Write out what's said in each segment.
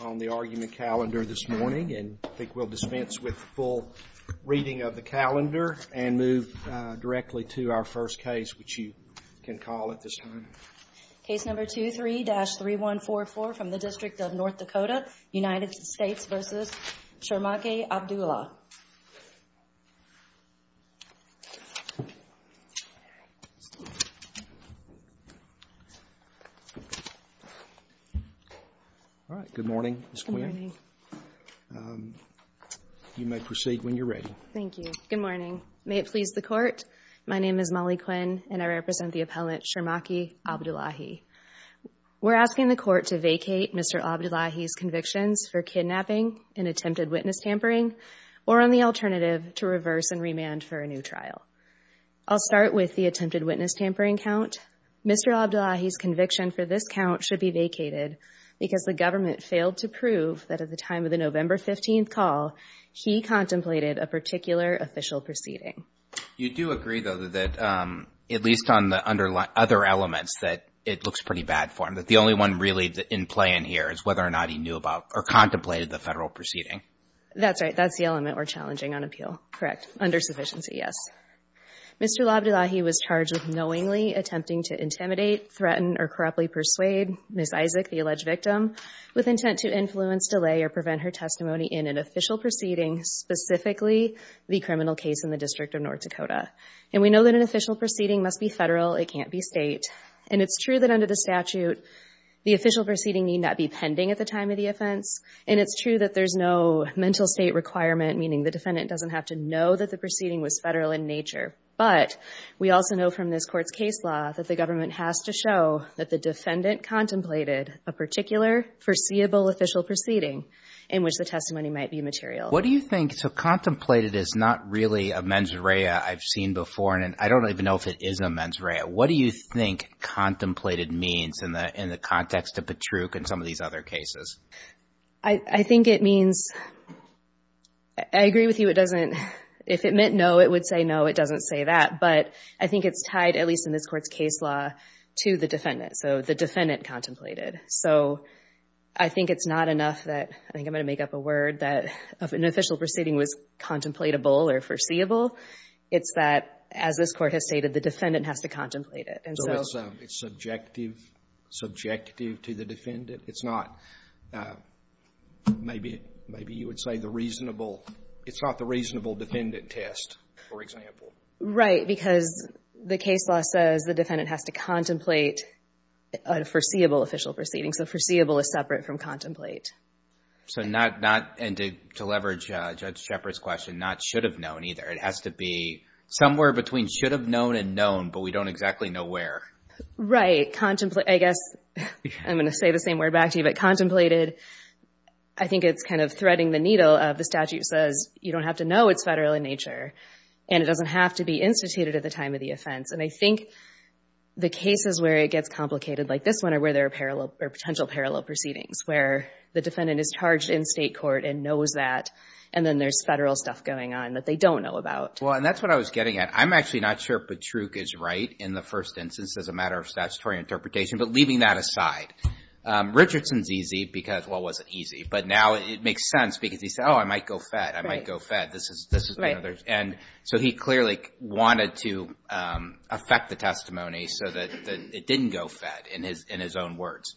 on the argument calendar this morning, and I think we'll dispense with the full reading of the calendar and move directly to our first case, which you can call at this time. Case number 23-3144 from the District of North Dakota, United States v. Sharmake Abdullahi. All right. Good morning, Ms. Quinn. Good morning. You may proceed when you're ready. Thank you. Good morning. May it please the Court, my name is Molly Quinn, and I represent the appellant Sharmake Abdullahi. We're asking the Court to vacate Mr. Abdullahi's convictions for kidnapping and attempted witness tampering, or on the alternative, to reverse and remand for a new trial. I'll start with the attempted witness tampering count. Mr. Abdullahi's conviction for this count should be vacated because the government failed to prove that at the time of the November 15th call, he contemplated a particular official proceeding. You do agree, though, that at least on the other elements, that it looks pretty bad for him, that the only one really in play in here is whether or not he knew about or contemplated the federal proceeding. That's right. That's the element we're challenging on appeal. Correct. Under sufficiency, yes. Mr. Abdullahi was charged with knowingly attempting to intimidate, threaten, or corruptly persuade Ms. Isaac, the alleged victim, with intent to influence, delay, or prevent her testimony in an official proceeding, specifically the criminal case in the District of North Dakota. And we know that an official proceeding must be federal. It can't be state. And it's true that under the statute, the official proceeding need not be pending at the time of the offense. And it's true that there's no mental state requirement, meaning the defendant doesn't have to know that the proceeding was federal in nature. But we also know from this Court's case law that the government has to show that the defendant contemplated a particular foreseeable official proceeding in which the testimony might be material. What do you think – so contemplated is not really a mens rea I've seen before, and I don't even know if it is a mens rea. What do you think contemplated means in the context of Patruch and some of these other cases? I think it means – I agree with you. It doesn't – if it meant no, it would say no. It doesn't say that. But I think it's tied, at least in this Court's case law, to the defendant. So the defendant contemplated. So I think it's not enough that – I think I'm going to make up a word – that an official proceeding was contemplatable or foreseeable. It's that, as this Court has stated, the defendant has to contemplate it. So it's subjective, subjective to the defendant. It's not – maybe you would say the reasonable – it's not the reasonable defendant test, for example. Right, because the case law says the defendant has to contemplate a foreseeable official proceeding. So foreseeable is separate from contemplate. So not – and to leverage Judge Shepard's question, not should have known either. It has to be somewhere between should have known and known, but we don't exactly know where. Right. I guess I'm going to say the same word back to you. But contemplated, I think it's kind of threading the needle of the statute says you don't have to know it's federal in nature. And it doesn't have to be instituted at the time of the offense. And I think the cases where it gets complicated, like this one, are where there are parallel – or potential parallel proceedings, where the defendant is charged in state court and knows that, and then there's federal stuff going on that they don't know about. Well, and that's what I was getting at. I'm actually not sure Petruk is right in the first instance as a matter of statutory interpretation. But leaving that aside, Richardson's easy because – well, it wasn't easy. But now it makes sense because he said, oh, I might go fed. I might go fed. This is – and so he clearly wanted to affect the testimony so that it didn't go fed in his own words.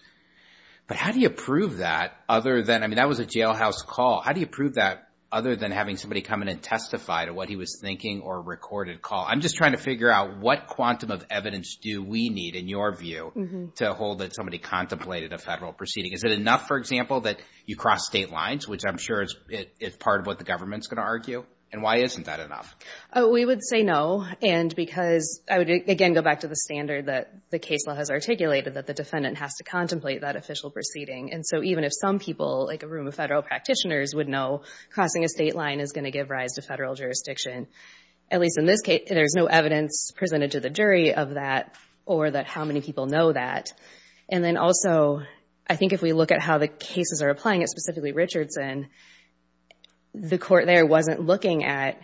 But how do you prove that other than – I mean, that was a jailhouse call. How do you prove that other than having somebody come in and testify to what he was thinking or a recorded call? I'm just trying to figure out what quantum of evidence do we need, in your view, to hold that somebody contemplated a federal proceeding. Is it enough, for example, that you cross state lines, which I'm sure is part of what the government's going to argue? And why isn't that enough? We would say no. And because – I would, again, go back to the standard that the case law has articulated, that the defendant has to contemplate that official proceeding. And so even if some people, like a room of federal practitioners, would know crossing a state line is going to give rise to federal jurisdiction, at least in this case, there's no evidence presented to the jury of that or that how many people know that. And then also, I think if we look at how the cases are applying it, specifically Richardson, the court there wasn't looking at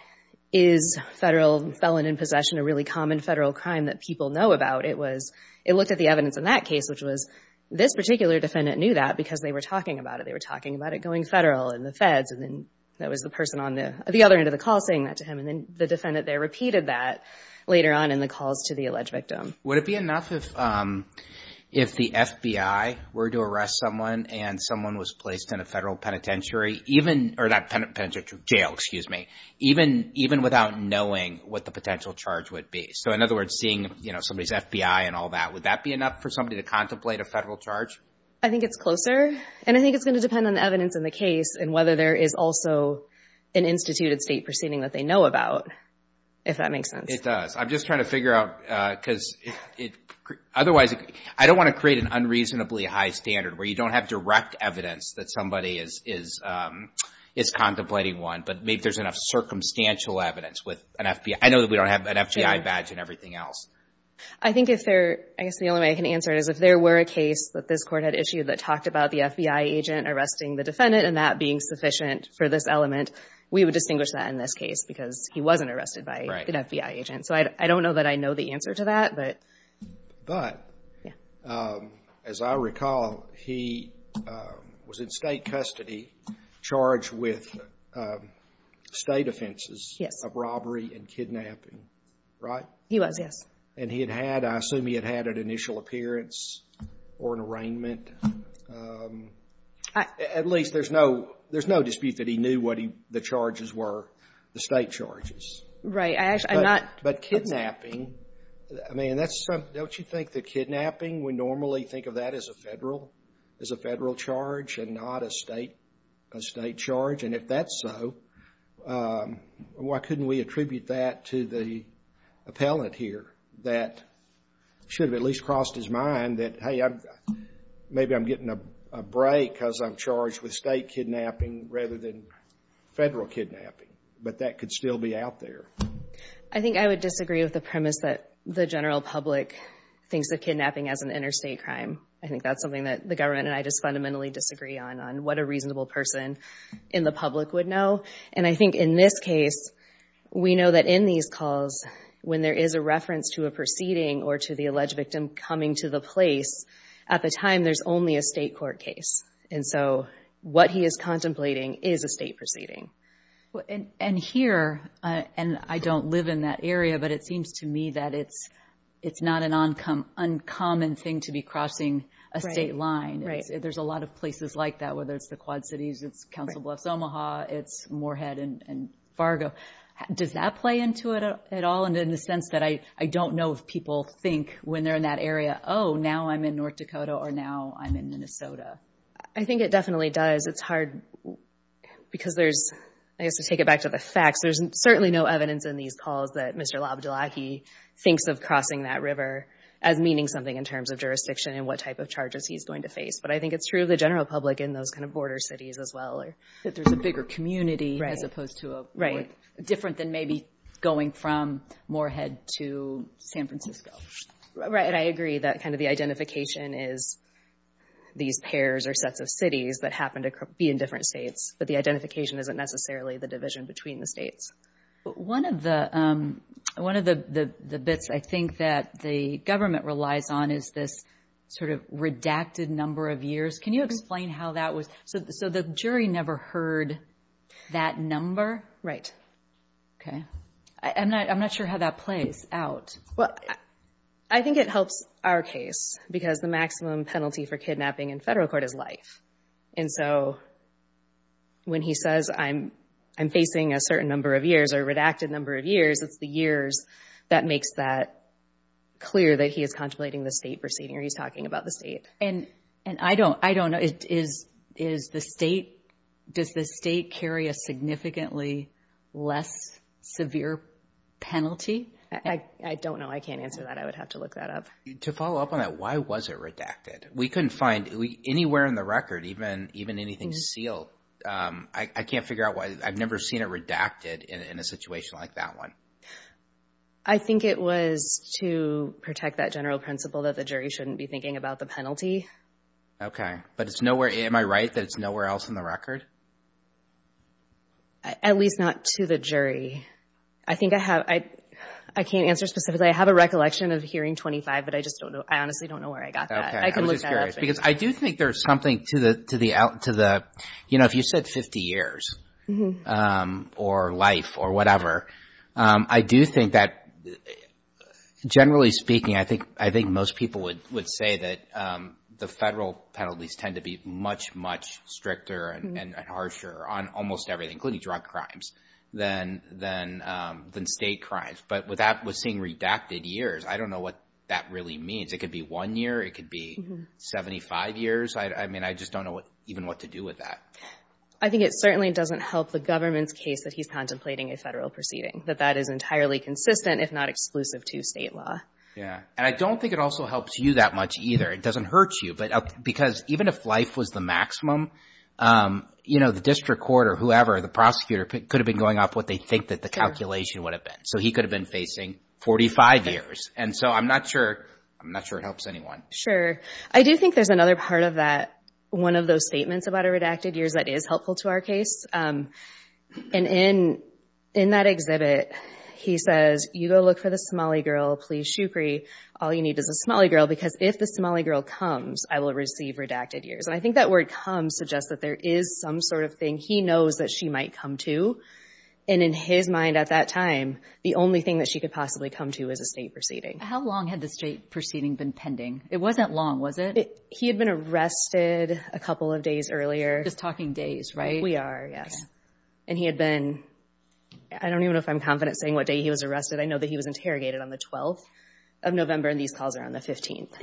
is federal felon in possession a really common federal crime that people know about. It was – it looked at the evidence in that case, which was this particular defendant knew that because they were talking about it. They were talking about it going federal in the feds. And then that was the person on the other end of the call saying that to him. And then the defendant there repeated that later on in the calls to the alleged victim. Would it be enough if the FBI were to arrest someone and someone was placed in a federal penitentiary, even – or not penitentiary, jail, excuse me, even without knowing what the potential charge would be? So in other words, seeing, you know, somebody's FBI and all that, would that be enough for somebody to contemplate a federal charge? I think it's closer. And I think it's going to depend on the evidence in the case and whether there is also an instituted state proceeding that they know about, if that makes sense. It does. I'm just trying to figure out because it – otherwise, I don't want to create an unreasonably high standard where you don't have direct evidence that somebody is contemplating one, but maybe there's enough circumstantial evidence with an FBI. I know that we don't have an FBI badge and everything else. I think if there – I guess the only way I can answer it is if there were a case that this Court had issued that talked about the FBI agent arresting the defendant and that being sufficient for this element, we would distinguish that in this case because he wasn't arrested by an FBI agent. So I don't know that I know the answer to that. But as I recall, he was in state custody charged with state offenses of robbery and kidnapping, right? He was, yes. And he had had – I assume he had had an initial appearance or an arraignment. At least there's no – there's no dispute that he knew what the charges were, the state charges. Right. I'm not – But kidnapping, I mean, that's – don't you think the kidnapping, we normally think of that as a Federal charge and not a state charge? And if that's so, why couldn't we attribute that to the appellant here that should have at least crossed his mind that, hey, maybe I'm getting a break because I'm charged with state kidnapping rather than Federal kidnapping? But that could still be out there. I think I would disagree with the premise that the general public thinks of kidnapping as an interstate crime. I think that's something that the government and I just fundamentally disagree on, on what a reasonable person in the public would know. And I think in this case, we know that in these calls, when there is a reference to a proceeding or to the alleged victim coming to the place, at the time there's only a state court case. And so what he is contemplating is a state proceeding. And here, and I don't live in that area, but it seems to me that it's not an uncommon thing to be crossing a state line. Right. There's a lot of places like that, whether it's the Quad Cities, it's Council Bluffs, Omaha, it's Moorhead and Fargo. Does that play into it at all? And in the sense that I don't know if people think when they're in that area, oh, now I'm in North Dakota or now I'm in Minnesota. I think it definitely does. It's hard because there's, I guess to take it back to the facts, there's certainly no evidence in these calls that Mr. Labdulahi thinks of crossing that river as meaning something in terms of jurisdiction and what type of charges he's going to face. But I think it's true of the general public in those kind of border cities as well. That there's a bigger community as opposed to a different than maybe going from Moorhead to San Francisco. Right. And I agree that kind of the identification is these pairs or sets of cities that happen to be in different states. But the identification isn't necessarily the division between the states. One of the bits I think that the government relies on is this sort of redacted number of years. Can you explain how that was? So the jury never heard that number? Okay. I'm not sure how that plays out. Well, I think it helps our case because the maximum penalty for kidnapping in federal court is life. And so when he says I'm facing a certain number of years or redacted number of years, it's the years that makes that clear that he is contemplating the state proceeding or he's talking about the state. And I don't know. Does the state carry a significantly less severe penalty? I don't know. I can't answer that. I would have to look that up. To follow up on that, why was it redacted? We couldn't find anywhere in the record even anything sealed. I can't figure out why. I've never seen it redacted in a situation like that one. I think it was to protect that general principle that the jury shouldn't be thinking about the penalty. Okay. But it's nowhere. Am I right that it's nowhere else in the record? At least not to the jury. I think I have. I can't answer specifically. I have a recollection of hearing 25, but I just don't know. I honestly don't know where I got that. I can look that up. Because I do think there's something to the, you know, if you said 50 years or life or whatever, I do think that generally speaking, I think most people would say that the federal penalties tend to be much, much stricter and harsher on almost everything, including drug crimes, than state crimes. But with that, with seeing redacted years, I don't know what that really means. It could be one year. It could be 75 years. I mean, I just don't know even what to do with that. I think it certainly doesn't help the government's case that he's contemplating a federal proceeding, that that is entirely consistent if not exclusive to state law. Yeah. And I don't think it also helps you that much either. It doesn't hurt you. Because even if life was the maximum, you know, the district court or whoever, the prosecutor could have been going off what they think that the calculation would have been. So he could have been facing 45 years. And so I'm not sure it helps anyone. Sure. I do think there's another part of that, one of those statements about a redacted years, that is helpful to our case. And in that exhibit, he says, you go look for the Somali girl, please shukri. All you need is a Somali girl because if the Somali girl comes, I will receive redacted years. And I think that word comes suggests that there is some sort of thing he knows that she might come to. And in his mind at that time, the only thing that she could possibly come to is a state proceeding. How long had the state proceeding been pending? It wasn't long, was it? He had been arrested a couple of days earlier. Just talking days, right? We are, yes. And he had been, I don't even know if I'm confident saying what day he was arrested. I know that he was interrogated on the 12th of November, and these calls are on the 15th.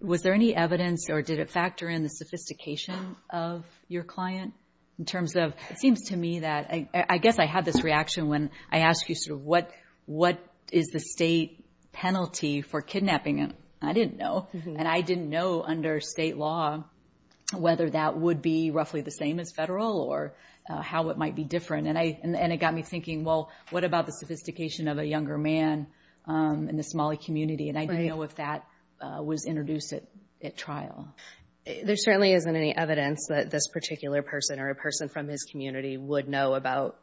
Was there any evidence or did it factor in the sophistication of your client in terms of, it seems to me that, I guess I had this reaction when I asked you sort of what is the state penalty for kidnapping him? I didn't know. And I didn't know under state law whether that would be roughly the same as federal or how it might be different. And it got me thinking, well, what about the sophistication of a younger man in the Somali community? And I didn't know if that was introduced at trial. There certainly isn't any evidence that this particular person or a person from his community would know about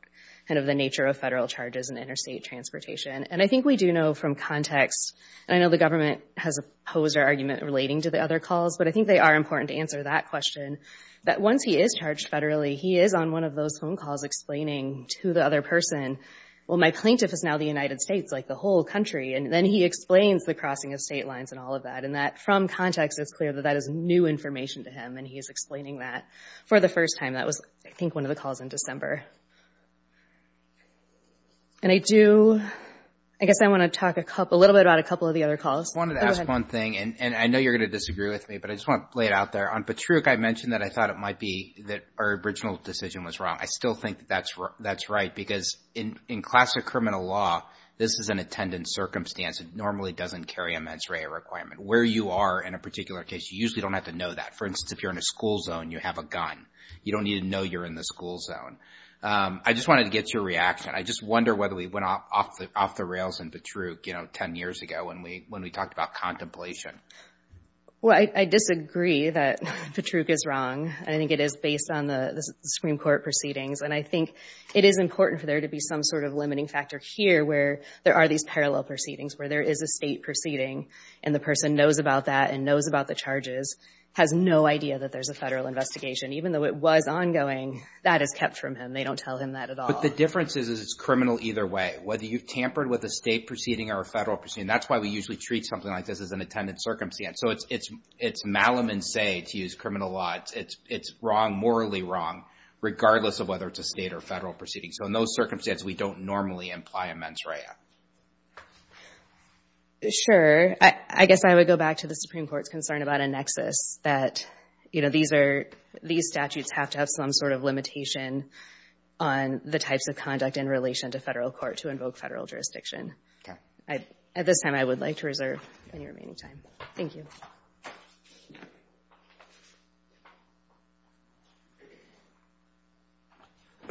kind of the nature of federal charges in interstate transportation. And I think we do know from context, and I know the government has opposed our argument relating to the other calls, but I think they are important to answer that question, that once he is charged federally, he is on one of those phone calls explaining to the other person, well, my plaintiff is now the United States, like the whole country. And then he explains the crossing of state lines and all of that. And that from context, it's clear that that is new information to him, and he is explaining that for the first time. That was, I think, one of the calls in December. And I do, I guess I want to talk a little bit about a couple of the other calls. Go ahead. I wanted to ask one thing, and I know you're going to disagree with me, but I just want to lay it out there. On Patruch, I mentioned that I thought it might be that our original decision was wrong. I still think that that's right, because in classic criminal law, this is an attendant circumstance. It normally doesn't carry a mens rea requirement. Where you are in a particular case, you usually don't have to know that. For instance, if you're in a school zone, you have a gun. You don't need to know you're in the school zone. I just wanted to get your reaction. I just wonder whether we went off the rails in Patruch, you know, ten years ago when we talked about contemplation. Well, I disagree that Patruch is wrong. I think it is based on the Supreme Court proceedings, and I think it is important for there to be some sort of limiting factor here where there are these parallel proceedings, where there is a state proceeding, and the person knows about that and knows about the charges, has no idea that there's a federal investigation. Even though it was ongoing, that is kept from him. They don't tell him that at all. But the difference is it's criminal either way, whether you've tampered with a state proceeding or a federal proceeding. That's why we usually treat something like this as an attendant circumstance. So it's malum in se to use criminal law. It's wrong, morally wrong, regardless of whether it's a state or federal proceeding. So in those circumstances, we don't normally imply a mens rea. Sure. I guess I would go back to the Supreme Court's concern about a nexus, that, you know, these are these statutes have to have some sort of limitation on the types of conduct in relation to Federal court to invoke Federal jurisdiction. At this time, I would like to reserve any remaining time. Thank you.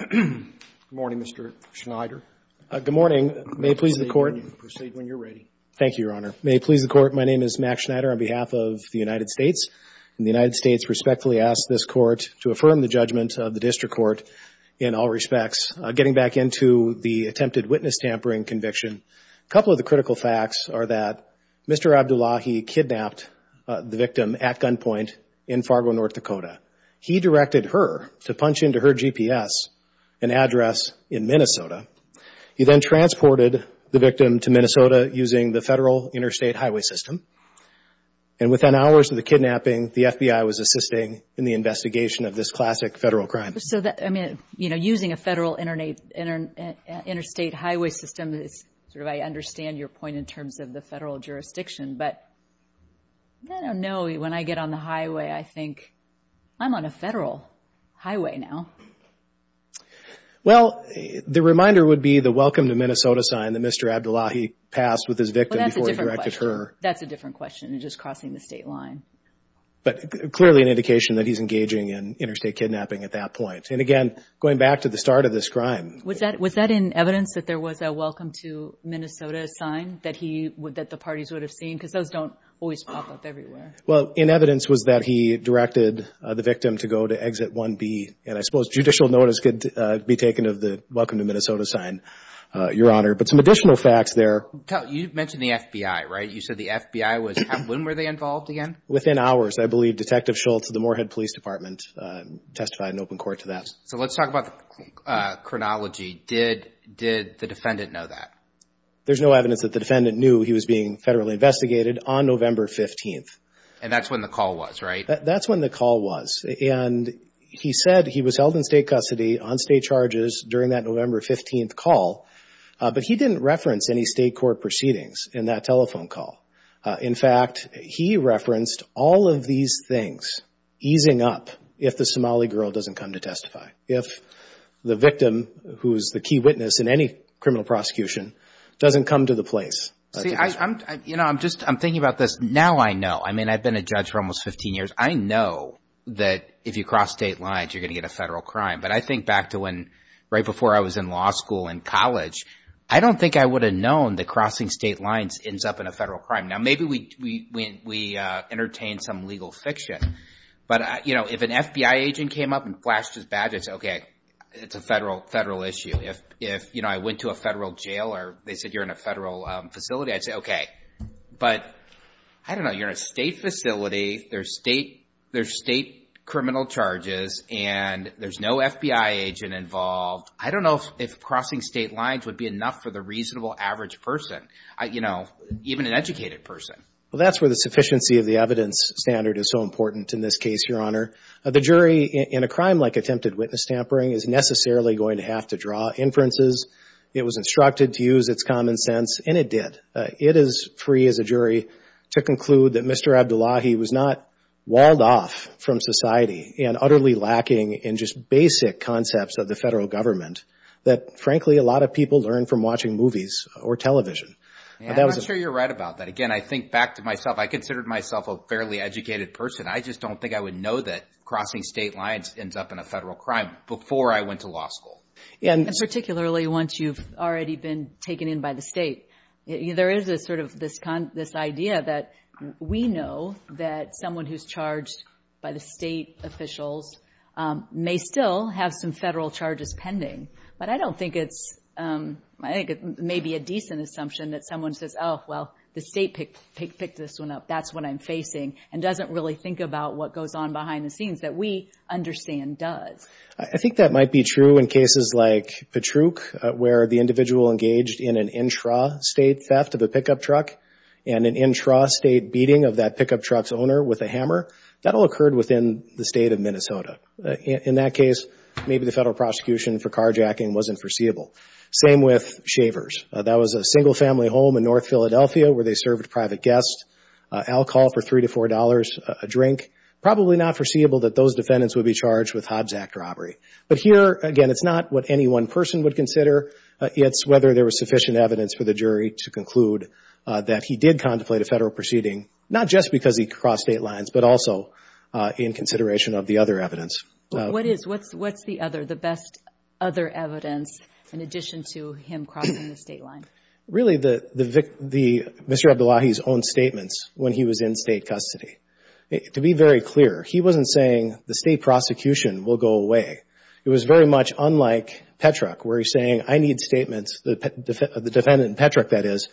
Good morning, Mr. Schneider. Good morning. May it please the Court. Proceed when you're ready. Thank you, Your Honor. May it please the Court. My name is Mack Schneider on behalf of the United States. And the United States respectfully asks this Court to affirm the judgment of the District Court in all respects. Getting back into the attempted witness tampering conviction, a couple of the critical facts are that Mr. Abdullahi kidnapped the victim at gunpoint in Fargo, North Dakota. He directed her to punch into her GPS an address in Minnesota. He then transported the victim to Minnesota using the Federal interstate highway system. And within hours of the kidnapping, the FBI was assisting in the investigation of this classic Federal crime. So, I mean, you know, using a Federal interstate highway system is sort of, I understand your point in terms of the Federal jurisdiction. But I don't know. When I get on the highway, I think, I'm on a Federal highway now. Well, the reminder would be the welcome to Minnesota sign that Mr. Abdullahi passed with his victim before he directed her. That's a different question. It's just crossing the state line. But clearly an indication that he's engaging in interstate kidnapping at that point. And, again, going back to the start of this crime. Was that in evidence that there was a welcome to Minnesota sign that the parties would have seen? Because those don't always pop up everywhere. Well, in evidence was that he directed the victim to go to exit 1B. And I suppose judicial notice could be taken of the welcome to Minnesota sign, Your Honor. But some additional facts there. You mentioned the FBI, right? You said the FBI was, when were they involved again? Within hours. I believe Detective Schultz of the Moorhead Police Department testified in open court to that. So let's talk about chronology. Did the defendant know that? There's no evidence that the defendant knew he was being Federally investigated on November 15th. And that's when the call was, right? That's when the call was. And he said he was held in state custody on state charges during that November 15th call. But he didn't reference any state court proceedings in that telephone call. In fact, he referenced all of these things easing up if the Somali girl doesn't come to testify. If the victim, who is the key witness in any criminal prosecution, doesn't come to the place. You know, I'm thinking about this. Now I know. I mean, I've been a judge for almost 15 years. I know that if you cross state lines, you're going to get a Federal crime. But I think back to when, right before I was in law school in college, I don't think I would have known that crossing state lines ends up in a Federal crime. Now maybe we entertain some legal fiction. But, you know, if an FBI agent came up and flashed his badge, I'd say, okay, it's a Federal issue. If, you know, I went to a Federal jail or they said you're in a Federal facility, I'd say, okay. But, I don't know, you're in a state facility. There's state criminal charges, and there's no FBI agent involved. I don't know if crossing state lines would be enough for the reasonable average person, you know, even an educated person. Well, that's where the sufficiency of the evidence standard is so important in this case, Your Honor. The jury, in a crime like attempted witness tampering, is necessarily going to have to draw inferences. It was instructed to use its common sense, and it did. It is free, as a jury, to conclude that Mr. Abdullahi was not walled off from society and utterly lacking in just basic concepts of the Federal government that, frankly, a lot of people learn from watching movies or television. I'm not sure you're right about that. Again, I think back to myself. I considered myself a fairly educated person. I just don't think I would know that crossing state lines ends up in a Federal crime before I went to law school. And particularly once you've already been taken in by the state. There is a sort of this idea that we know that someone who's charged by the state officials may still have some Federal charges pending. But I don't think it's – I think it may be a decent assumption that someone says, oh, well, the state picked this one up, that's what I'm facing, and doesn't really think about what goes on behind the scenes, that we understand does. I think that might be true in cases like Patruch where the individual engaged in an intra-state theft of a pickup truck and an intra-state beating of that pickup truck's owner with a hammer. That all occurred within the state of Minnesota. In that case, maybe the Federal prosecution for carjacking wasn't foreseeable. Same with shavers. That was a single-family home in North Philadelphia where they served private guests alcohol for $3 to $4 a drink. Probably not foreseeable that those defendants would be charged with Hobbs Act robbery. But here, again, it's not what any one person would consider. It's whether there was sufficient evidence for the jury to conclude that he did contemplate a Federal proceeding, not just because he crossed state lines, but also in consideration of the other evidence. What is – what's the other, the best other evidence in addition to him crossing the state line? Really, Mr. Abdullahi's own statements when he was in state custody. To be very clear, he wasn't saying the state prosecution will go away. It was very much unlike Patruch where he's saying I need statements, the defendant in Patruch, that is,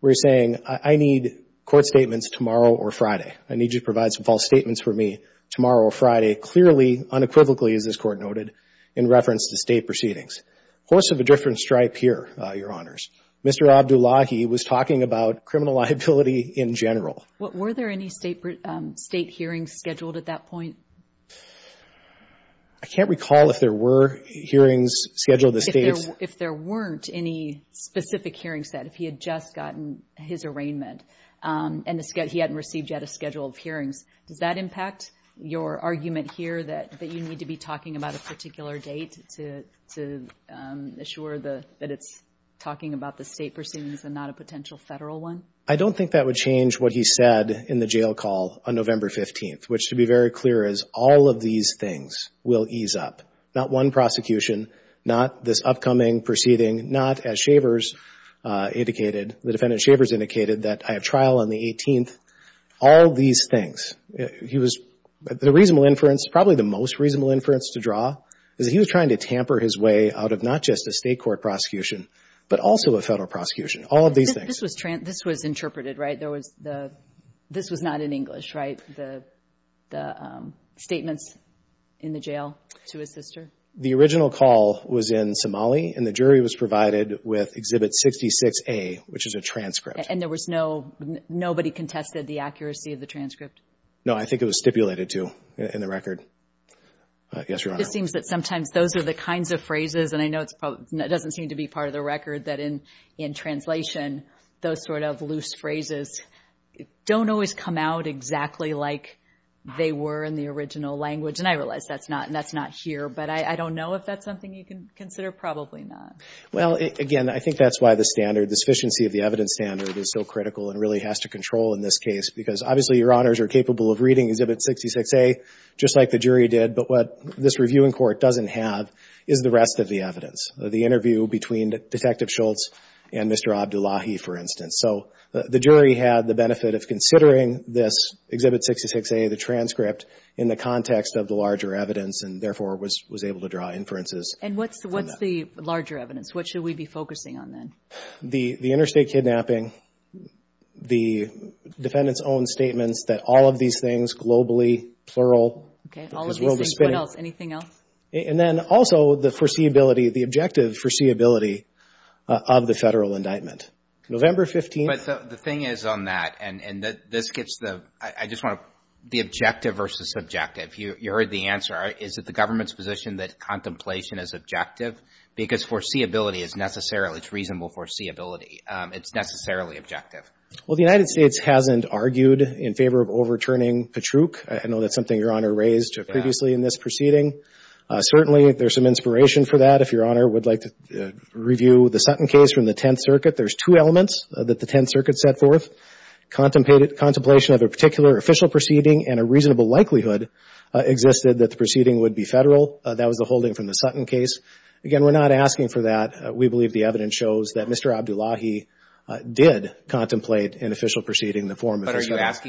where he's saying I need court statements tomorrow or Friday. I need you to provide some false statements for me tomorrow or Friday. Clearly, unequivocally, as this Court noted, in reference to state proceedings. Horse of a different stripe here, Your Honors. Mr. Abdullahi was talking about criminal liability in general. Well, were there any state hearings scheduled at that point? I can't recall if there were hearings scheduled at the states. If there weren't any specific hearings, then, if he had just gotten his arraignment and he hadn't received yet a schedule of hearings, does that impact your argument here that you need to be talking about a particular date to assure that it's talking about the state proceedings and not a potential Federal one? I don't think that would change what he said in the jail call on November 15th, which, to be very clear, is all of these things will ease up. Not one prosecution, not this upcoming proceeding, not, as Shavers indicated, the defendant, Shavers, indicated, that I have trial on the 18th, all these things. He was, the reasonable inference, probably the most reasonable inference to draw, is that he was trying to tamper his way out of not just a state court prosecution but also a Federal prosecution, all of these things. This was interpreted, right? This was not in English, right, the statements in the jail to his sister? The original call was in Somali, and the jury was provided with Exhibit 66A, which is a transcript. And there was no, nobody contested the accuracy of the transcript? No, I think it was stipulated to in the record. Yes, Your Honor. It seems that sometimes those are the kinds of phrases, and I know it doesn't seem to be part of the record, that in translation, those sort of loose phrases don't always come out exactly like they were in the original language. And I realize that's not here, but I don't know if that's something you can consider? Probably not. Well, again, I think that's why the standard, the sufficiency of the evidence standard is so critical and really has to control in this case. Because, obviously, Your Honors are capable of reading Exhibit 66A, just like the jury did. But what this reviewing court doesn't have is the rest of the evidence. The interview between Detective Schultz and Mr. Abdullahi, for instance. So the jury had the benefit of considering this Exhibit 66A, the transcript, in the context of the larger evidence and, therefore, was able to draw inferences. And what's the larger evidence? What should we be focusing on then? The interstate kidnapping, the defendant's own statements that all of these things, globally, plural. Okay, all of these things. What else? Anything else? And then, also, the foreseeability, the objective foreseeability of the federal indictment. November 15th. But the thing is on that, and this gets the objective versus subjective. You heard the answer. Is it the government's position that contemplation is objective? Because foreseeability is necessary. It's reasonable foreseeability. It's necessarily objective. Well, the United States hasn't argued in favor of overturning Patruch. I know that's something Your Honor raised previously in this proceeding. Certainly, there's some inspiration for that. If Your Honor would like to review the Sutton case from the Tenth Circuit, there's two elements that the Tenth Circuit set forth. Contemplation of a particular official proceeding and a reasonable likelihood existed that the proceeding would be federal. That was the holding from the Sutton case. Again, we're not asking for that. We believe the evidence shows that Mr. Abdullahi did contemplate an official proceeding in the form of this case.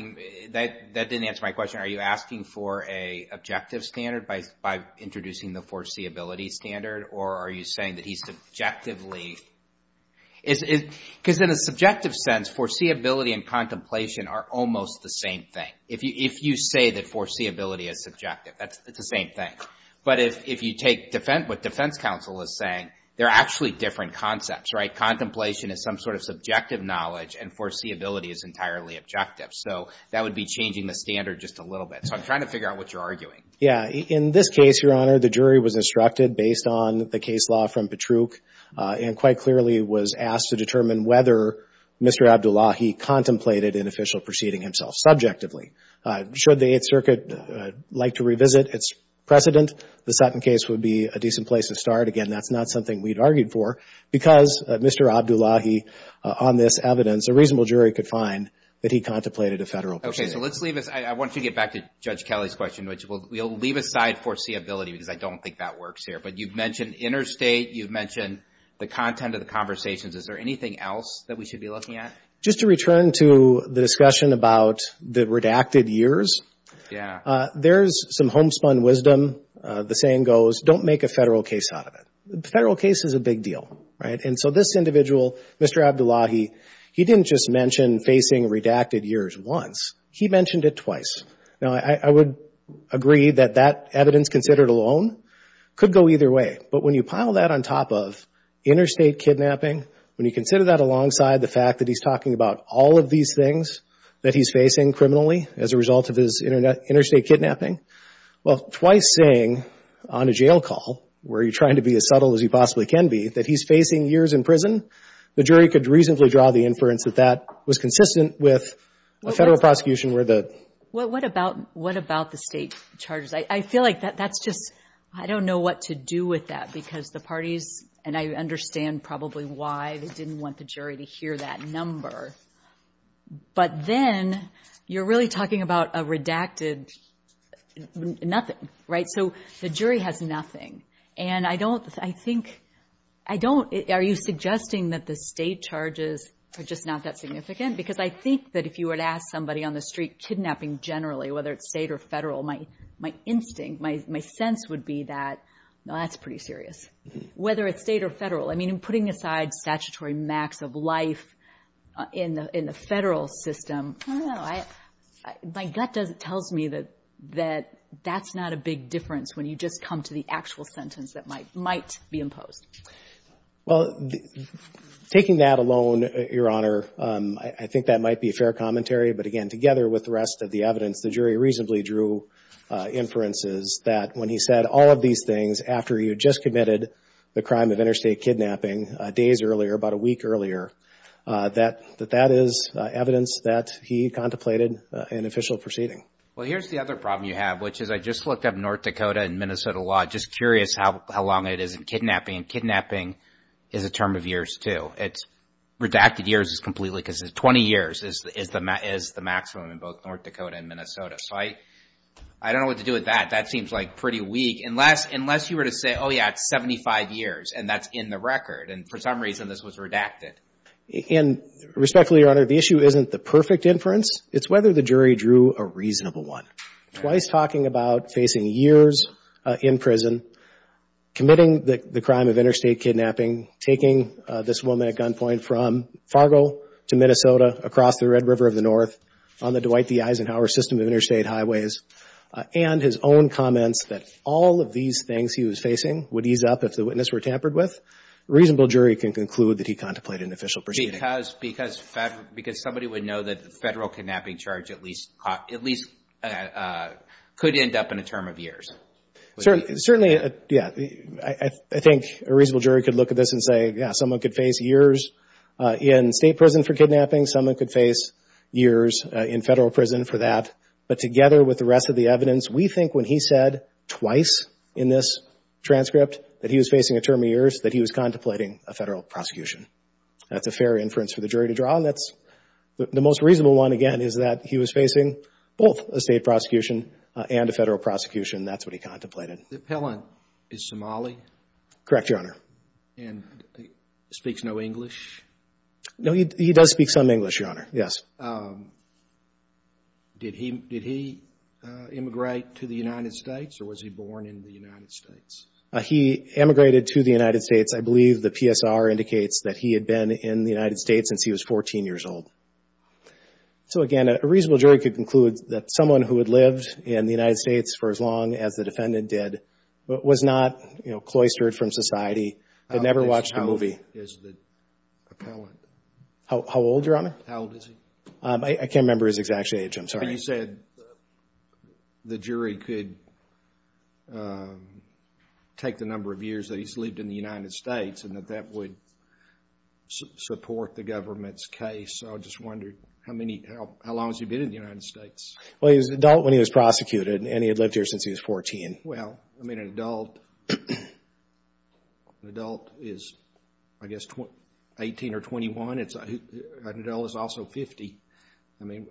That didn't answer my question. Are you asking for an objective standard by introducing the foreseeability standard, or are you saying that he subjectively – because in a subjective sense, foreseeability and contemplation are almost the same thing. If you say that foreseeability is subjective, it's the same thing. But if you take what defense counsel is saying, they're actually different concepts. Contemplation is some sort of subjective knowledge, and foreseeability is entirely objective. So that would be changing the standard just a little bit. So I'm trying to figure out what you're arguing. Yeah. In this case, Your Honor, the jury was instructed based on the case law from Patruch and quite clearly was asked to determine whether Mr. Abdullahi contemplated an official proceeding himself subjectively. Should the Eighth Circuit like to revisit its precedent, the Sutton case would be a decent place to start. Again, that's not something we'd argued for because Mr. Abdullahi, on this evidence, a reasonable jury could find that he contemplated a federal proceeding. Okay, so let's leave this. I want to get back to Judge Kelly's question, which we'll leave aside foreseeability because I don't think that works here. But you've mentioned interstate. You've mentioned the content of the conversations. Is there anything else that we should be looking at? Just to return to the discussion about the redacted years, there's some homespun wisdom. The saying goes, don't make a federal case out of it. The federal case is a big deal, right? And so this individual, Mr. Abdullahi, he didn't just mention facing redacted years once. He mentioned it twice. Now, I would agree that that evidence considered alone could go either way. But when you pile that on top of interstate kidnapping, when you consider that alongside the fact that he's talking about all of these things that he's facing criminally as a result of his interstate kidnapping, well, twice saying on a jail call where he's trying to be as subtle as he possibly can be that he's facing years in prison, the jury could reasonably draw the inference that that was consistent with a federal prosecution. What about the state charges? I feel like that's just, I don't know what to do with that because the parties, and I understand probably why they didn't want the jury to hear that number. But then you're really talking about a redacted nothing, right? So the jury has nothing. And I don't, I think, I don't, are you suggesting that the state charges are just not that significant? Because I think that if you were to ask somebody on the street kidnapping generally, whether it's state or federal, my instinct, my sense would be that, no, that's pretty serious. Whether it's state or federal, I mean, putting aside statutory max of life in the federal system, my gut tells me that that's not a big difference when you just come to the actual sentence that might be imposed. Well, taking that alone, Your Honor, I think that might be a fair commentary. But again, together with the rest of the evidence, the jury reasonably drew inferences that when he said all of these things after he had just committed the crime of interstate kidnapping days earlier, about a week earlier, that that is evidence that he contemplated an official proceeding. Well, here's the other problem you have, which is I just looked up North Dakota and Minnesota law. Just curious how long it is in kidnapping. And kidnapping is a term of years, too. Redacted years is completely, because 20 years is the maximum in both North Dakota and Minnesota. So I don't know what to do with that. That seems like pretty weak. Unless you were to say, oh, yeah, it's 75 years, and that's in the record. And for some reason, this was redacted. And respectfully, Your Honor, the issue isn't the perfect inference. It's whether the jury drew a reasonable one. Twice talking about facing years in prison, committing the crime of interstate kidnapping, taking this woman at gunpoint from Fargo to Minnesota, across the Red River of the North, on the Dwight D. Eisenhower system of interstate highways, and his own comments that all of these things he was facing would ease up if the witness were tampered with, a reasonable jury can conclude that he contemplated an official proceeding. Because somebody would know that the federal kidnapping charge at least could end up in a term of years. Certainly, yeah. I think a reasonable jury could look at this and say, yeah, someone could face years in state prison for kidnapping. Someone could face years in federal prison for that. But together with the rest of the evidence, we think when he said twice in this transcript that he was facing a term of years, that he was contemplating a federal prosecution. That's a fair inference for the jury to draw, and that's the most reasonable one, again, is that he was facing both a state prosecution and a federal prosecution. That's what he contemplated. The appellant is Somali? Correct, Your Honor. And speaks no English? No, he does speak some English, Your Honor, yes. Did he immigrate to the United States, or was he born in the United States? He immigrated to the United States. I believe the PSR indicates that he had been in the United States since he was 14 years old. So, again, a reasonable jury could conclude that someone who had lived in the United States for as long as the defendant did, but was not cloistered from society, had never watched a movie. How old is the appellant? How old, Your Honor? How old is he? I can't remember his exact age, I'm sorry. But you said the jury could take the number of years that he's lived in the United States and that that would support the government's case. I just wondered how long has he been in the United States? Well, he was an adult when he was prosecuted, and he had lived here since he was 14. Well, I mean, an adult is, I guess, 18 or 21. An adult is also 50. I mean,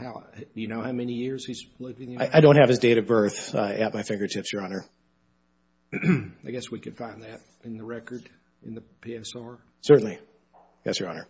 do you know how many years he's lived in the United States? I don't have his date of birth at my fingertips, Your Honor. I guess we could find that in the record in the PSR. Certainly. Yes, Your Honor.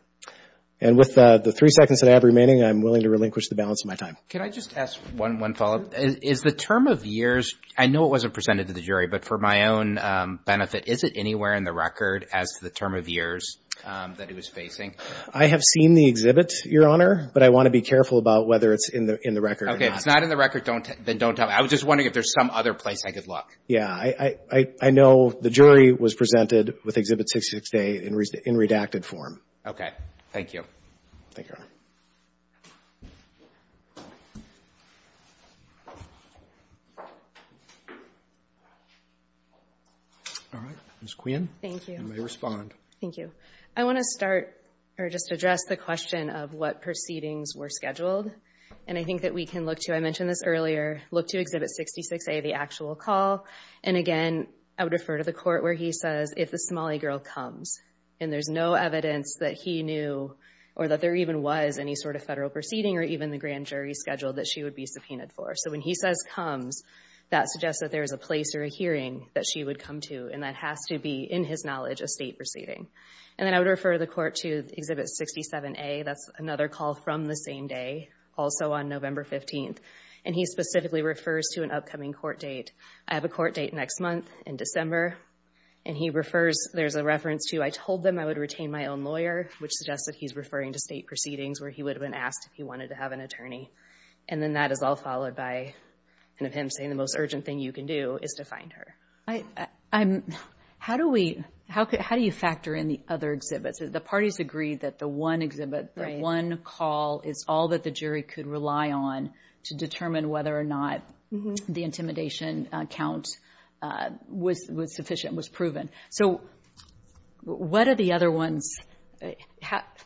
And with the three seconds that I have remaining, I'm willing to relinquish the balance of my time. Can I just ask one follow-up? Is the term of years, I know it wasn't presented to the jury, but for my own benefit, is it anywhere in the record as to the term of years that he was facing? I have seen the exhibit, Your Honor, but I want to be careful about whether it's in the record or not. Okay. If it's not in the record, then don't tell me. I was just wondering if there's some other place I could look. Yeah. I know the jury was presented with Exhibit 66A in redacted form. Okay. Thank you. Thank you, Your Honor. All right. Ms. Quinn. Thank you. Thank you. I want to start or just address the question of what proceedings were scheduled. And I think that we can look to, I mentioned this earlier, look to Exhibit 66A, the actual call. And, again, I would refer to the court where he says if the Somali girl comes and there's no evidence that he knew or that there even was any sort of federal proceeding or even the grand jury schedule that she would be subpoenaed for. So when he says comes, that suggests that there is a place or a hearing that she would come to. And that has to be, in his knowledge, a state proceeding. And then I would refer the court to Exhibit 67A. That's another call from the same day, also on November 15th. And he specifically refers to an upcoming court date. I have a court date next month in December. And he refers, there's a reference to, I told them I would retain my own lawyer, which suggests that he's referring to state proceedings where he would have been asked if he wanted to have an attorney. And then that is all followed by him saying the most urgent thing you can do is to find her. How do we, how do you factor in the other exhibits? The parties agree that the one exhibit, the one call is all that the jury could rely on to determine whether or not the intimidation count was sufficient, was proven. So what are the other ones,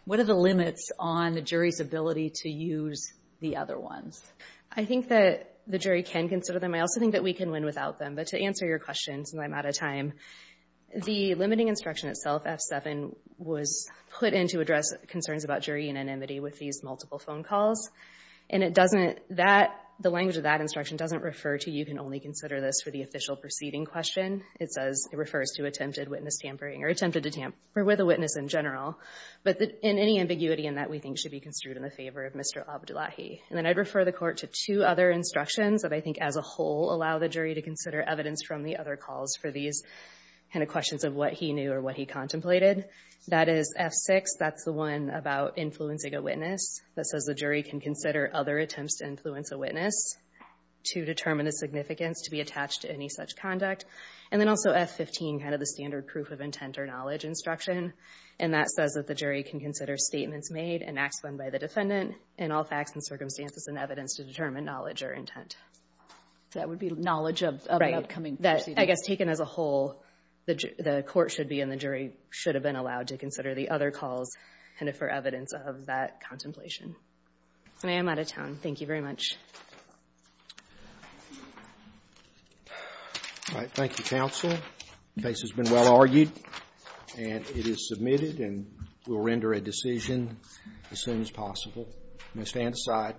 what are the limits on the jury's ability to use the other ones? I think that the jury can consider them. I also think that we can win without them. But to answer your question, since I'm out of time, the limiting instruction itself, F7, was put in to address concerns about jury unanimity with these multiple phone calls. And it doesn't, that, the language of that instruction doesn't refer to you can only consider this for the official proceeding question. It says, it refers to attempted witness tampering or attempted to tamper with a witness in general. But in any ambiguity in that we think should be construed in the favor of Mr. Abdullahi. And then I'd refer the court to two other instructions that I think as a whole allow the jury to consider evidence from the other calls for these kind of questions of what he knew or what he contemplated. That is F6, that's the one about influencing a witness. That says the jury can consider other attempts to influence a witness to determine the significance to be attached to any such conduct. And then also F15, kind of the standard proof of intent or knowledge instruction. And that says that the jury can consider statements made and acts done by the defendant in all facts and circumstances and evidence to determine knowledge or intent. That would be knowledge of an upcoming proceeding. I guess taken as a whole, the court should be and the jury should have been allowed to consider the other calls for evidence of that contemplation. And I am out of time. Thank you very much. Thank you, counsel. The case has been well argued. And it is submitted and we'll render a decision as soon as possible. I'm going to stand aside.